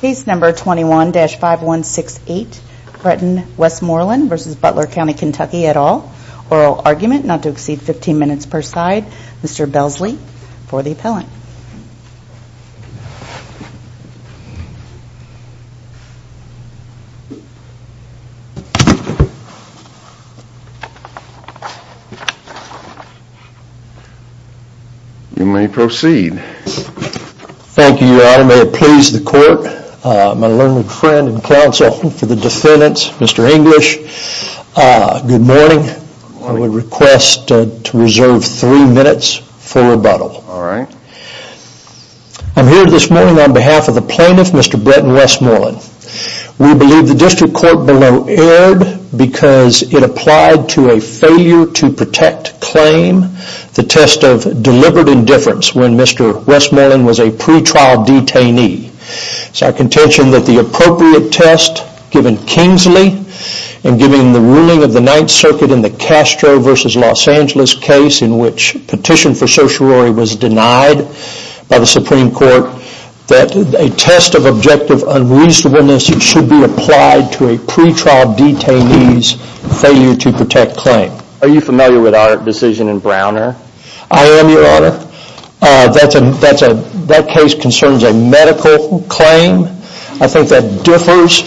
Case number 21-5168 Bretton Westmoreland v. Butler Co KY et al. Oral argument not to exceed 15 minutes per side. Mr. Belsley for the appellant. You may proceed. Thank you Your Honor, may it please the court, my lonely friend and counsel for the defendants, Mr. English. Good morning. I would request to reserve three minutes for rebuttal. Alright. I'm here this morning on behalf of the plaintiff, Mr. Bretton Westmoreland. We believe the district court below erred because it applied to a failure to protect claim, the test of deliberate indifference when Mr. Westmoreland was a pre-trial detainee. It is our contention that the appropriate test given Kingsley and given the ruling of the Ninth Circuit in the Castro v. Los Angeles case in which petition for certiorary was denied by the Supreme Court, that a test of objective unreasonableness should be applied to a pre-trial detainee's failure to protect claim. Are you familiar with our decision in Browner? I am, Your Honor. That case concerns a medical claim. I think that differs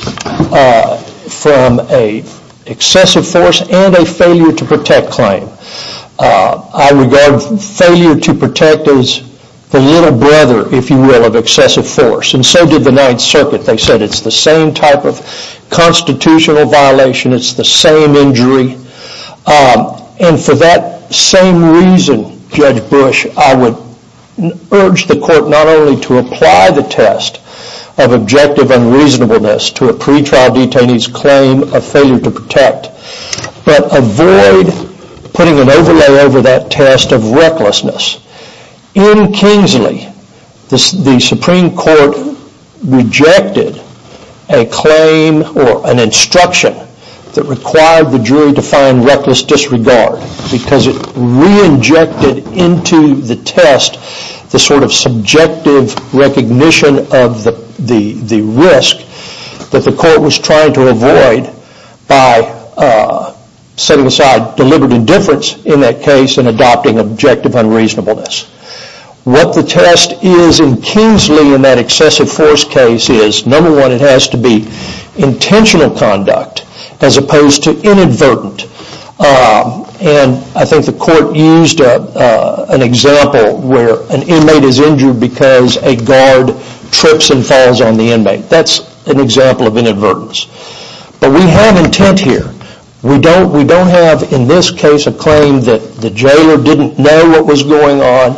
from an excessive force and a failure to protect claim. I regard failure to protect as the little brother, if you will, of excessive force and so did the Ninth Circuit. They said it's the same type of constitutional violation, it's the same injury, and for that same reason, Judge Bush, I would urge the court not only to apply the test of objective unreasonableness to a pre-trial detainee's claim of failure to protect, but avoid putting an overlay over that test of recklessness. In Kingsley, the Supreme Court rejected a claim or an instruction that required the jury to find reckless disregard because it re-injected into the test the sort of subjective recognition of the risk that the court was trying to avoid by setting aside deliberate indifference in that case and adopting objective unreasonableness. What the test is in Kingsley in that excessive force case is, number one, it has to be intentional conduct as opposed to inadvertent. I think the court used an example where an inmate is injured because a guard trips and falls on the inmate. That's an example of inadvertence. But we have intent here. We don't have in this case a claim that the jailer didn't know what was going on,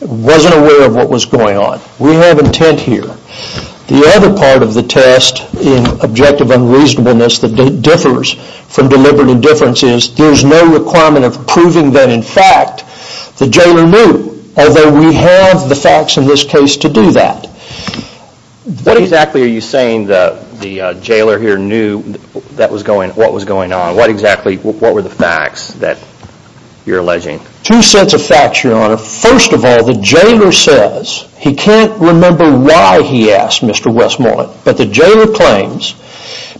wasn't aware of what was going on. We have intent here. The other part of the test in objective unreasonableness that differs from deliberate indifference is there's no requirement of proving that in fact the jailer knew, although we have the facts in this case to do that. What exactly are you saying the jailer here knew what was going on? What exactly were the facts that you're alleging? Two sets of facts, your honor. First of all, the jailer says he can't remember why he asked Mr. Westmoreland, but the jailer claims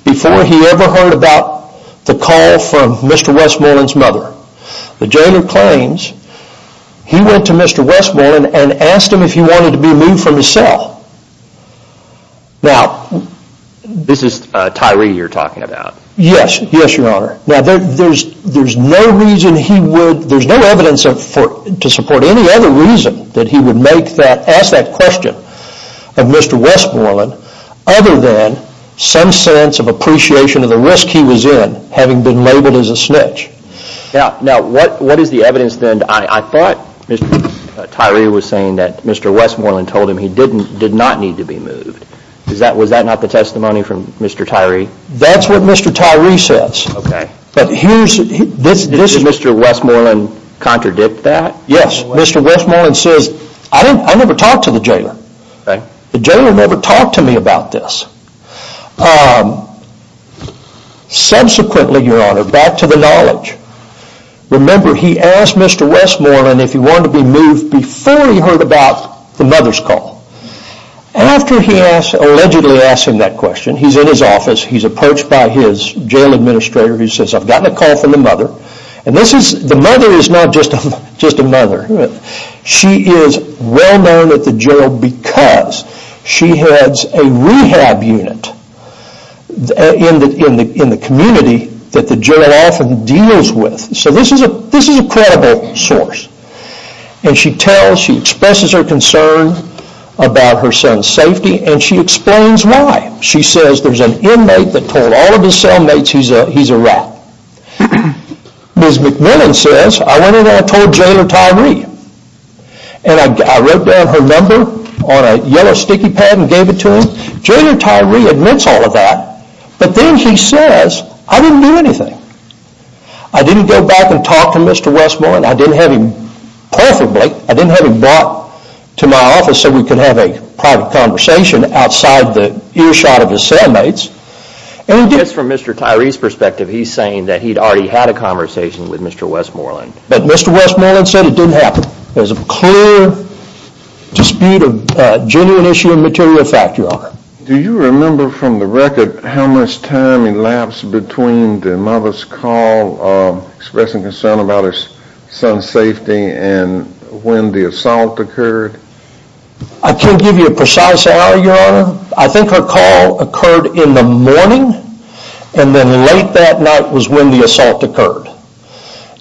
before he ever heard about the call from Mr. Westmoreland's mother, the jailer claims, he went to Mr. Westmoreland and asked him if he wanted to be removed from his cell. This is Tyree you're talking about? Yes, your honor. There's no evidence to support any other reason that he would ask that question of Mr. Westmoreland other than some sense of appreciation of the risk he was in, having been labeled as a snitch. Now what is the evidence then? I thought Tyree was saying that Mr. Westmoreland told him he did not need to be moved. Was that not the testimony from Mr. Tyree? That's what Mr. Tyree says. Did Mr. Westmoreland contradict that? Yes, Mr. Westmoreland says, I never talked to the jailer. The jailer never talked to me about this. Subsequently, your honor, back to the knowledge, remember he asked Mr. Westmoreland if he wanted to be moved before he heard about the mother's call. After he allegedly asked him that question, he's in his office, he's approached by his jail administrator who says, I've gotten a call from the mother, and the mother is not just a mother. She is well known at the jail because she heads a rehab unit in the community that the jail often deals with. So this is a credible source. She tells, she expresses her concern about her son's safety, and she explains why. She says there's an inmate that told all of his cellmates he's a rat. Ms. McMillan says, I went in there and told Jailer Tyree, and I wrote down her number on a yellow sticky pad and gave it to him. Jailer Tyree admits all of that, but then he says, I didn't do anything. I didn't go back and talk to Mr. Westmoreland, I didn't have him, preferably, I didn't have him brought to my office so we could have a private conversation outside the earshot of his cellmates. And just from Mr. Tyree's perspective, he's saying that he'd already had a conversation with Mr. Westmoreland. But Mr. Westmoreland said it didn't happen. There's a clear dispute of genuine issue and material fact, Your Honor. Do you remember from the record how much time elapsed between the mother's call expressing concern about her son's safety and when the assault occurred? I can't give you a precise hour, Your Honor. I think her call occurred in the morning and then late that night was when the assault occurred.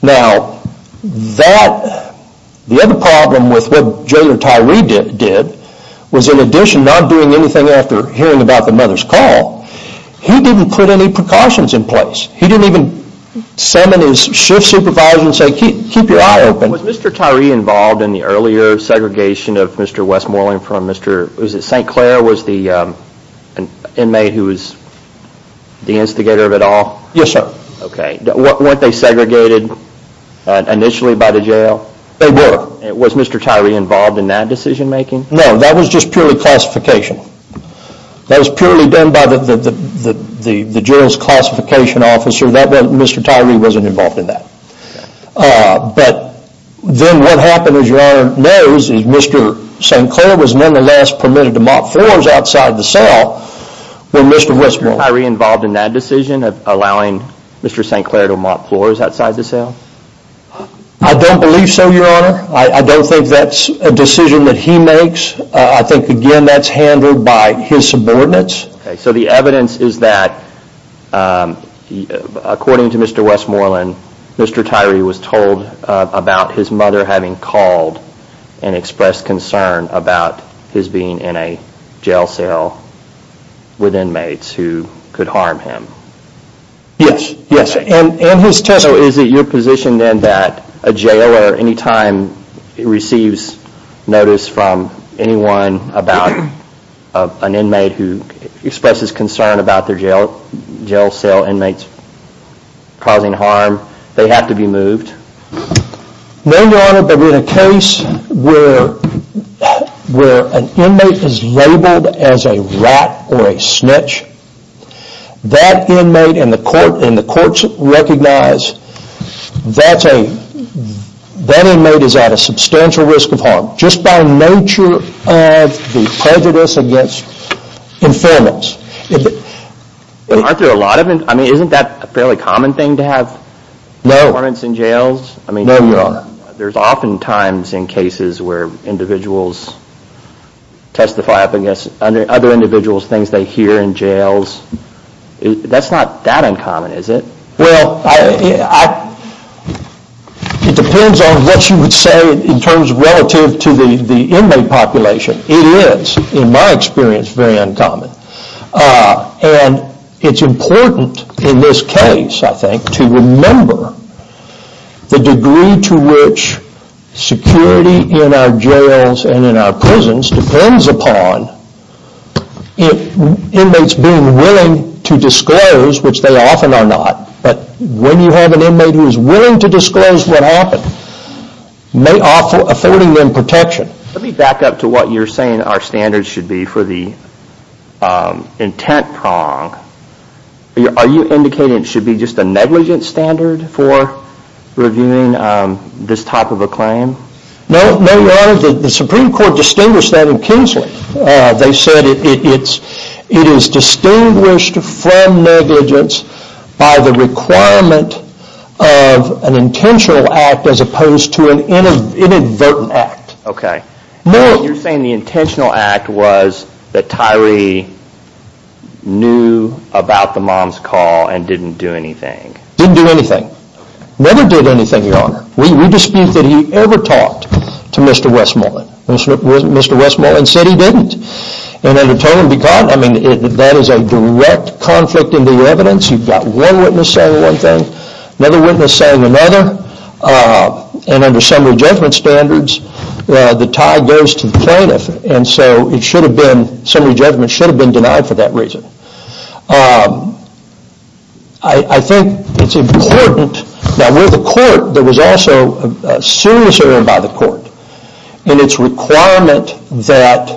Now, the other problem with what Jailer Tyree did, was in addition to not doing anything after hearing about the mother's call, he didn't put any precautions in place. He didn't even summon his shift supervisor and say, keep your eye open. Was Mr. Tyree involved in the earlier segregation of Mr. Westmoreland from St. Clair? St. Clair was the inmate who was the instigator of it all? Yes, sir. Okay. Weren't they segregated initially by the jail? They were. Was Mr. Tyree involved in that decision making? No. That was just purely classification. That was purely done by the Jailer's classification officer. Mr. Tyree wasn't involved in that. But then what happened, as Your Honor knows, is Mr. St. Clair was nonetheless permitted to mop floors outside the cell when Mr. Westmoreland... Was Mr. Tyree involved in that decision of allowing Mr. St. Clair to mop floors outside the cell? I don't believe so, Your Honor. I don't think that's a decision that he makes. I think, again, that's handled by his subordinates. So the evidence is that, according to Mr. Westmoreland, Mr. Tyree was told about his Yes. Yes. And his testimony... So is it your position then that a Jailer, any time he receives notice from anyone about an inmate who expresses concern about their jail cell inmates causing harm, they have to be moved? No, Your Honor, but in a case where an inmate is labeled as a rat or a snitch, that inmate and the courts recognize that inmate is at a substantial risk of harm, just by nature of the prejudice against informants. Isn't that a fairly common thing to have informants in jails? No. No, Your Honor. There's often times in cases where individuals testify up against other individuals, things they hear in jails. That's not that uncommon, is it? Well, it depends on what you would say in terms relative to the inmate population. It is, in my experience, very uncommon. And it's important in this case, I think, to remember the degree to which security in our jails and in our prisons depends upon inmates being willing to disclose, which they often are not. But when you have an inmate who is willing to disclose what happened, may offer authority and protection. Let me back up to what you're saying our standards should be for the intent prong. Are you indicating it should be just a negligence standard for reviewing this type of a claim? No, Your Honor. The Supreme Court distinguished that in Kingsley. They said it is distinguished from negligence by the requirement of an intentional act as opposed to an inadvertent act. You're saying the intentional act was that Tyree knew about the mom's call and didn't do anything. Didn't do anything. Never did anything, Your Honor. We dispute that he ever talked to Mr. Westmoreland. Mr. Westmoreland said he didn't. And that is a direct conflict in the evidence. You've got one witness saying one thing, another witness saying another, and under summary judgment standards, the tie goes to the plaintiff. And so it should have been, summary judgment should have been denied for that reason. I think it's important, now with the court, there was also a serious error by the court. And it's requirement that,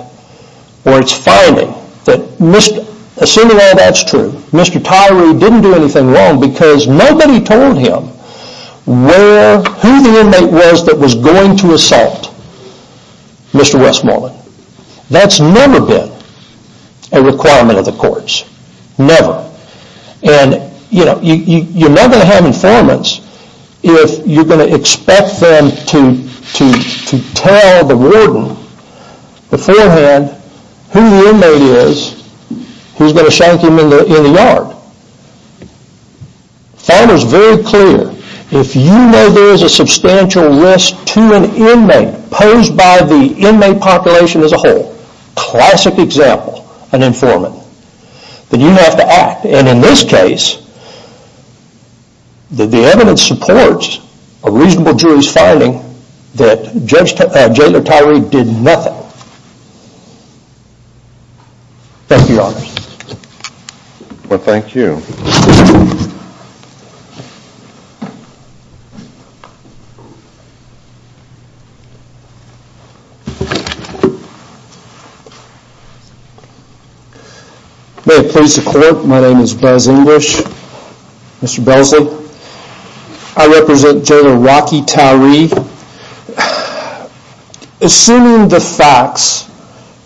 or it's finding, that assuming all that's true, Mr. Tyree didn't do anything wrong because nobody told him where, who the inmate was that was going to assault Mr. Westmoreland. That's never been a requirement of the courts. Never. And, you know, you're never going to have informants if you're going to expect them to tell the warden beforehand who the inmate is who's going to shank him in the yard. Finders very clear, if you know there is a substantial risk to an inmate posed by the inmate population as a whole, classic example, an informant, then you have to act. And in this case, the evidence supports a reasonable jury's finding that Jailor Tyree did nothing. Thank you, Your Honor. Well, thank you. May it please the court, my name is Buzz English, Mr. Belsley. I represent Jailor Rocky Tyree. Assuming the facts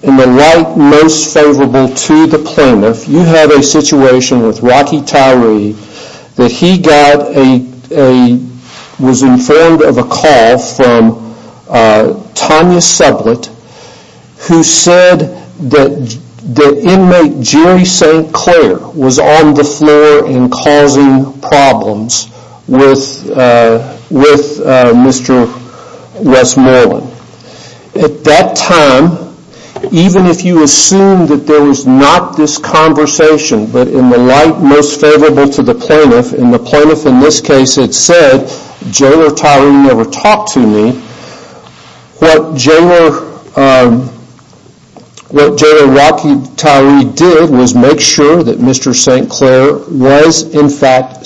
in the light most favorable to the plaintiff, you have a situation with Rocky Tyree, that he got a, was informed of a call from Tanya Sublett, who said that the inmate Jerry St. Clair was on the floor and causing problems with Mr. Westmoreland. At that time, even if you assume that there was not this conversation, but in the light most favorable to the plaintiff, and the plaintiff in this case had said, Jailor Tyree never talked to me, what Jailor Rocky Tyree did was make sure that Mr. St. Clair was in fact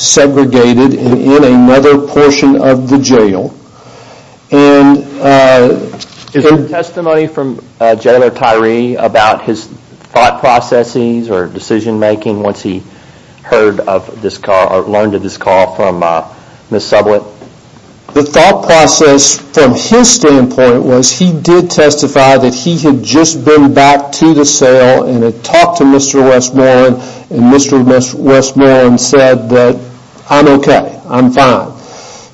Is there testimony from Jailor Tyree about his thought processes or decision making once he heard of this call, or learned of this call from Ms. Sublett? The thought process from his standpoint was he did testify that he had just been back to the cell and had talked to Mr. Westmoreland, and Mr. Westmoreland said that, I'm okay, I'm fine.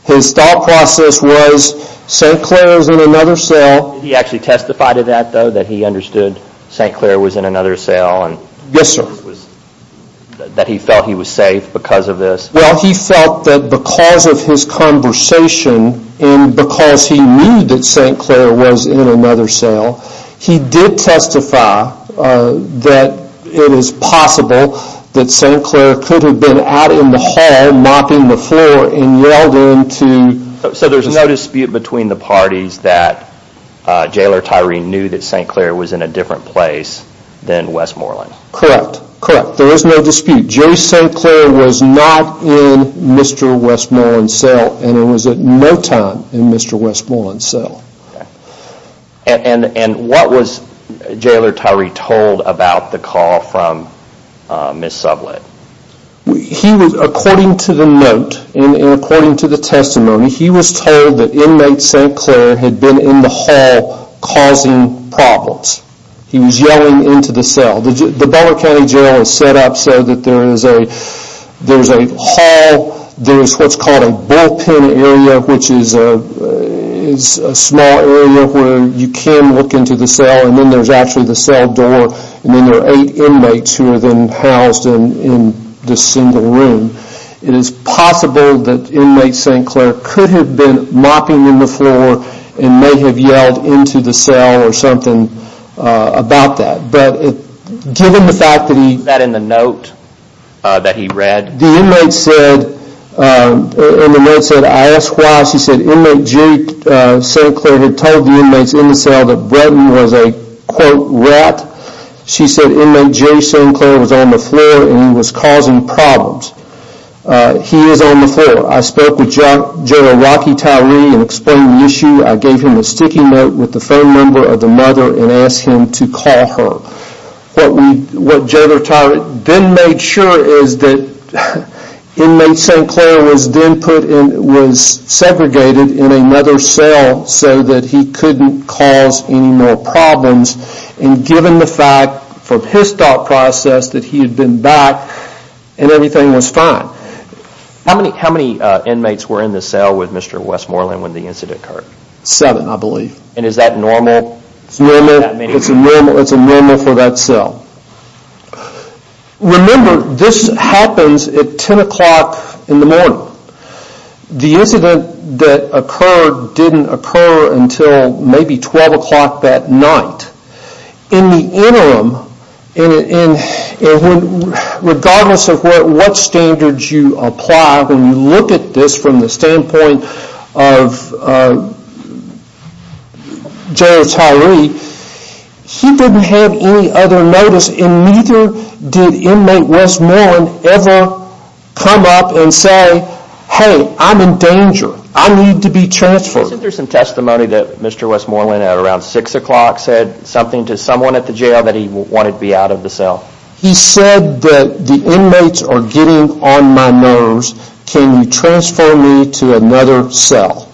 His thought process was, St. Clair is in another cell. Did he actually testify to that though, that he understood St. Clair was in another cell and that he felt he was safe because of this? Well, he felt that because of his conversation, and because he knew that St. Clair was in another cell, he did testify that it is possible that St. Clair could have been out in the So, there's no dispute between the parties that Jailor Tyree knew that St. Clair was in a different place than Westmoreland? Correct, there is no dispute, J. St. Clair was not in Mr. Westmoreland's cell, and was at no time in Mr. Westmoreland's cell. And what was Jailor Tyree told about the call from Ms. Sublett? He was, according to the note, and according to the testimony, he was told that inmate St. Clair had been in the hall causing problems. He was yelling into the cell. The Butler County Jail is set up so that there's a hall, there's what's called a bullpen area, which is a small area where you can look into the cell, and then there's actually the cell door, and then there are eight inmates who are then housed in this single room. It is possible that inmate St. Clair could have been mopping in the floor, and may have yelled into the cell or something about that, but given the fact that he... Is that in the note that he read? The inmate said, in the note said, I asked why, she said, Inmate Jerry St. Clair had told the inmates in the cell that Bretton was a, quote, rat. She said, Inmate Jerry St. Clair was on the floor and he was causing problems. He is on the floor. I spoke with Jailor Rocky Tyree and explained the issue. I gave him a sticky note with the phone number of the mother and asked him to call her. What Jailor Tyree then made sure is that inmate St. Clair was then put in, was segregated in another cell so that he couldn't cause any more problems, and given the fact from his thought process that he had been back and everything was fine. How many inmates were in the cell with Mr. Westmoreland when the incident occurred? Seven, I believe. And is that normal? It's normal. It's a normal for that cell. Remember, this happens at 10 o'clock in the morning. The incident that occurred didn't occur until maybe 12 o'clock that night. In the interim, regardless of what standards you apply, when you look at this from the standpoint of Jailor Tyree, he didn't have any other notice and neither did Inmate Westmoreland ever come up and say, hey, I'm in danger, I need to be transferred. Isn't there some testimony that Mr. Westmoreland at around 6 o'clock said something to someone at the jail that he wanted to be out of the cell? He said that the inmates are getting on my nerves, can you transfer me to another cell?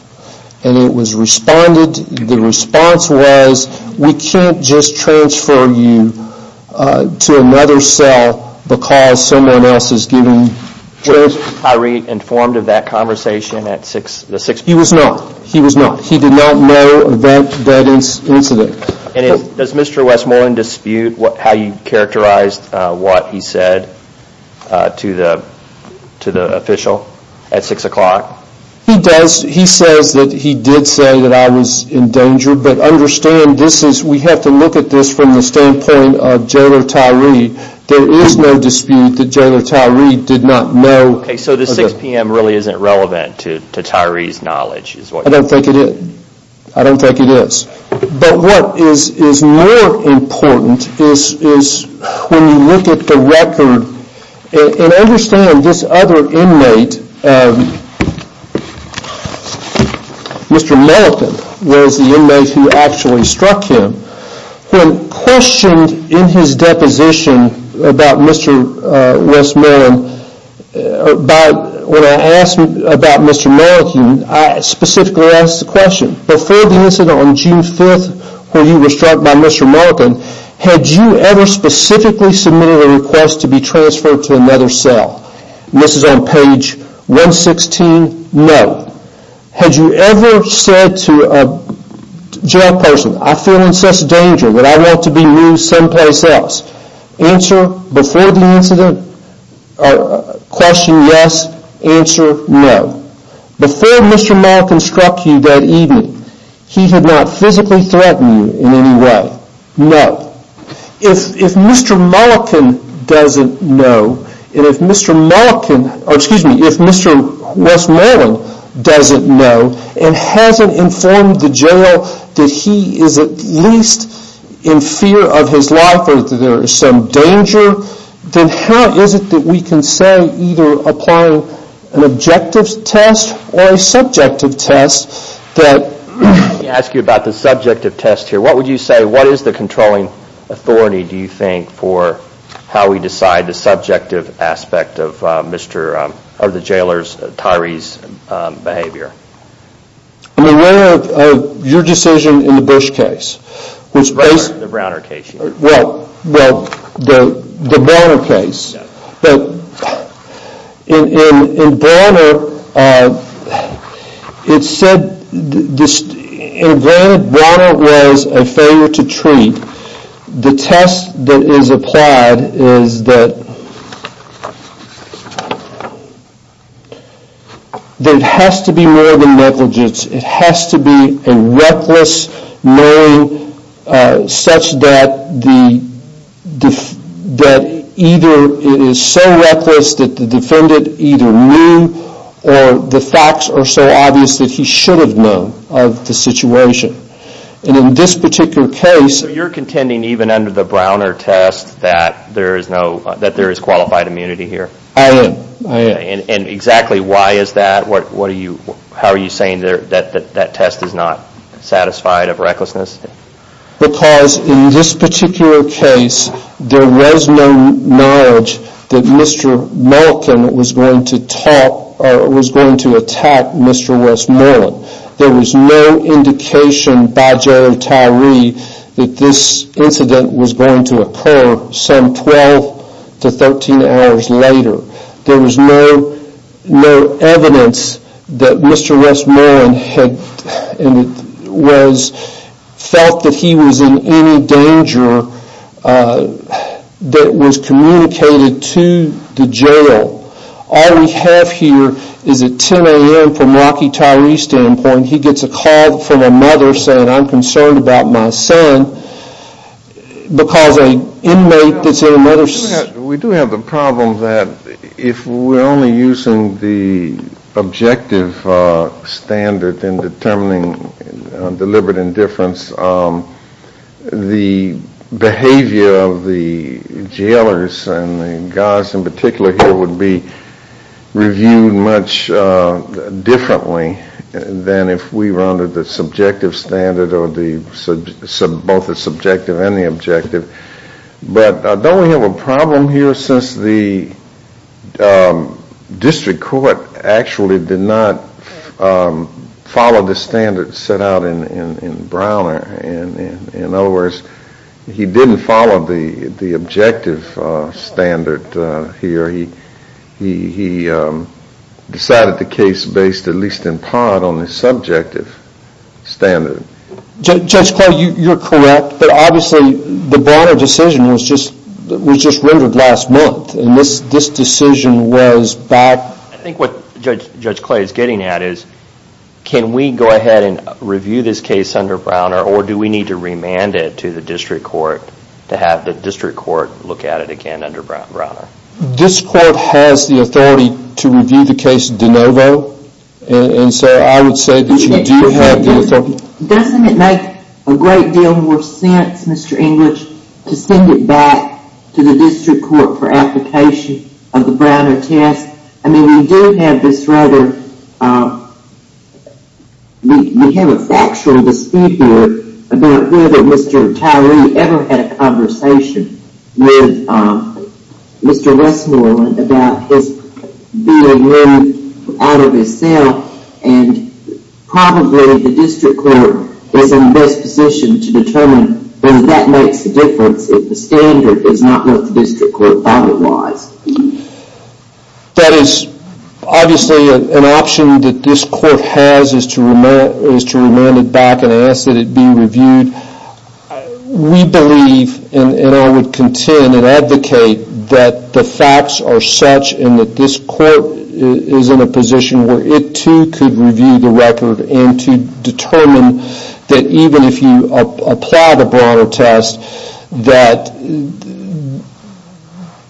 And it was responded, the response was, we can't just transfer you to another cell because someone else is getting transferred. Was Tyree informed of that conversation at 6 o'clock? He was not. He was not. He did not know of that incident. Does Mr. Westmoreland dispute how you characterized what he said to the official at 6 o'clock? He says that he did say that I was in danger, but understand, we have to look at this from the standpoint of Jailor Tyree, there is no dispute that Jailor Tyree did not know. So the 6 p.m. really isn't relevant to Tyree's knowledge? I don't think it is. But what is more important is when you look at the record and understand this other inmate, Mr. Mellican was the inmate who actually struck him, when questioned in his deposition about Mr. Westmoreland, when I asked about Mr. Mellican, I specifically asked the question, before the incident on June 5th when you were struck by Mr. Mellican, had you ever specifically submitted a request to be transferred to another cell? This is on page 116, no. Had you ever said to a jail person, I feel in such danger that I want to be moved some place else, answer before the incident, question yes, answer no. Before Mr. Mellican struck you that evening, he had not physically threatened you in any way? No. If Mr. Mellican doesn't know, and if Mr. Westmoreland doesn't know, and hasn't informed the jail that he is at least in fear of his life, or that there is some danger, then how is it that we can say either applying an objective test or a subjective test that... What authority do you think for how we decide the subjective aspect of the jailer's, Tyree's behavior? I'm aware of your decision in the Bush case, which basically... The Browner case, you mean? Well, the Browner case. But in Browner, it said, in Browner, Browner was a failure to treat. The test that is applied is that there has to be more than negligence. It has to be a reckless knowing such that either it is so reckless that the defendant either knew, or the facts are so obvious that he should have known of the situation. And in this particular case... You're contending even under the Browner test that there is qualified immunity here? I am. I am. And exactly why is that? What are you... How are you saying that that test is not satisfied of recklessness? Because in this particular case, there was no knowledge that Mr. Malkin was going to talk... Or was going to attack Mr. Westmoreland. There was no indication by Jailer Tyree that this incident was going to occur some 12 to 13 hours later. There was no evidence that Mr. Westmoreland had felt that he was in any danger that was communicated to the jail. All we have here is a 10 a.m. from Rocky Tyree's standpoint. He gets a call from a mother saying, I'm concerned about my son because an inmate that's in another... We do have the problem that if we're only using the objective standard in determining deliberate indifference, the behavior of the jailers and the guys in particular here would be reviewed much differently than if we rounded the subjective standard or both the subjective and the objective. But don't we have a problem here since the district court actually did not follow the standard set out in Browner. In other words, he didn't follow the objective standard here. He decided the case based at least in part on the subjective standard. Judge Clay, you're correct, but obviously the Browner decision was just rendered last month and this decision was back... I think what Judge Clay is getting at is, can we go ahead and review this case under Browner or do we need to remand it to the district court to have the district court look at it again under Browner? This court has the authority to review the case de novo and so I would say that you do have the authority... Doesn't it make a great deal more sense, Mr. English, to send it back to the district court for application of the Browner test? I mean, we do have this rather, we have a factual dispute here about whether Mr. Tyree ever had a conversation with Mr. Westmoreland about his being removed out of his cell and probably the district court is in the best position to determine whether that makes a difference if the standard is not what the district court thought it was. That is obviously an option that this court has is to remand it back and ask that it be reviewed. We believe and I would contend and advocate that the facts are such and that this court is in a position where it too could review the record and to determine that even if you apply the Browner test that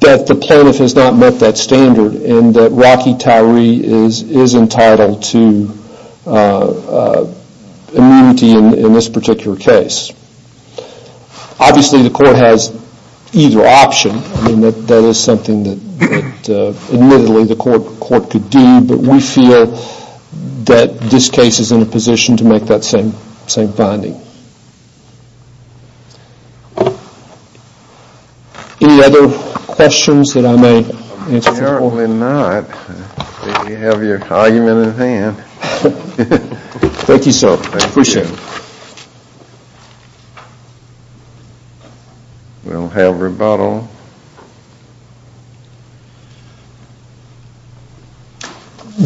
the plaintiff has not met that standard and that Rocky Tyree is entitled to immunity in this particular case. Obviously the court has either option and that is something that admittedly the court could do but we feel that this case is in a position to make that same finding. Any other questions that I may answer? Certainly not, I think you have your argument at hand. Thank you sir, I appreciate it. We don't have rebuttal.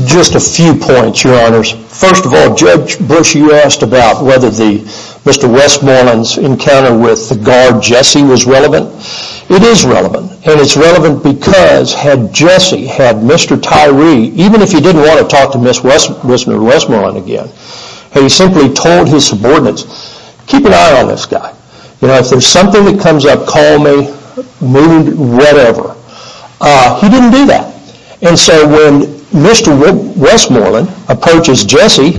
Just a few points your honors. First of all, Judge Bush you asked about whether Mr. Westmoreland's encounter with the guard Jesse was relevant. It is relevant and it is relevant because had Jesse, had Mr. Tyree, even if he didn't want to talk to Mr. Westmoreland again, had he simply told his subordinates keep an eye on this guy. If there is something that comes up, call me, whatever. He didn't do that. And so when Mr. Westmoreland approaches Jesse,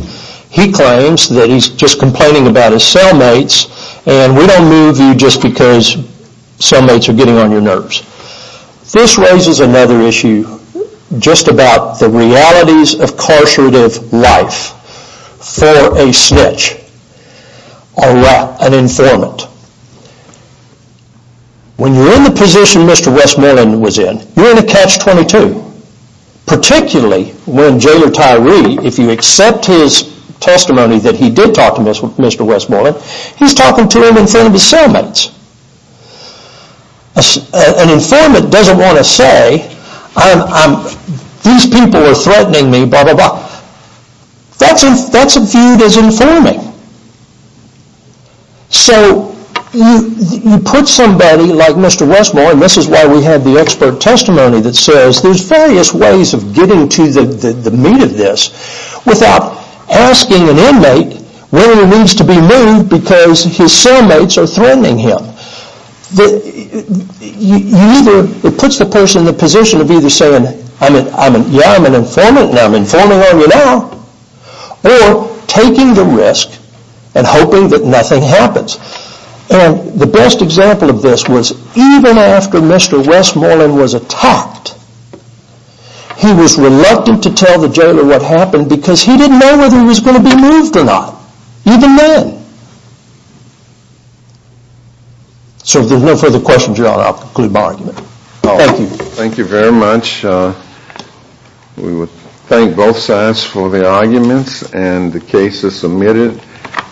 he claims that he's just complaining about his cellmates and we don't move you just because cellmates are getting on your nerves. This raises another issue just about the realities of carcerative life for a snitch, an informant. When you're in the position Mr. Westmoreland was in, you're in a catch-22, particularly when Jailer Tyree, if you accept his testimony that he did talk to Mr. Westmoreland, he's talking to him in front of his cellmates. An informant doesn't want to say, these people are threatening me, blah, blah, blah. That's viewed as informing. So you put somebody like Mr. Westmoreland, and this is why we have the expert testimony that says there's various ways of getting to the meat of this, without asking an inmate whether he needs to be moved because his cellmates are threatening him. It puts the person in the position of either saying, yeah, I'm an informant and I'm informing on you now, or taking the risk and hoping that nothing happens. The best example of this was even after Mr. Westmoreland was attacked, he was reluctant to tell the Jailer what happened because he didn't know whether he was going to be moved or not, even then. So if there's no further questions, I'll conclude my argument. Thank you. Thank you very much. We would thank both sides for their arguments, and the case is submitted,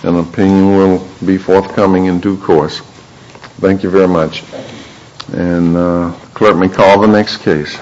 and opinion will be forthcoming in due course. Thank you very much, and the Clerk may call the next case.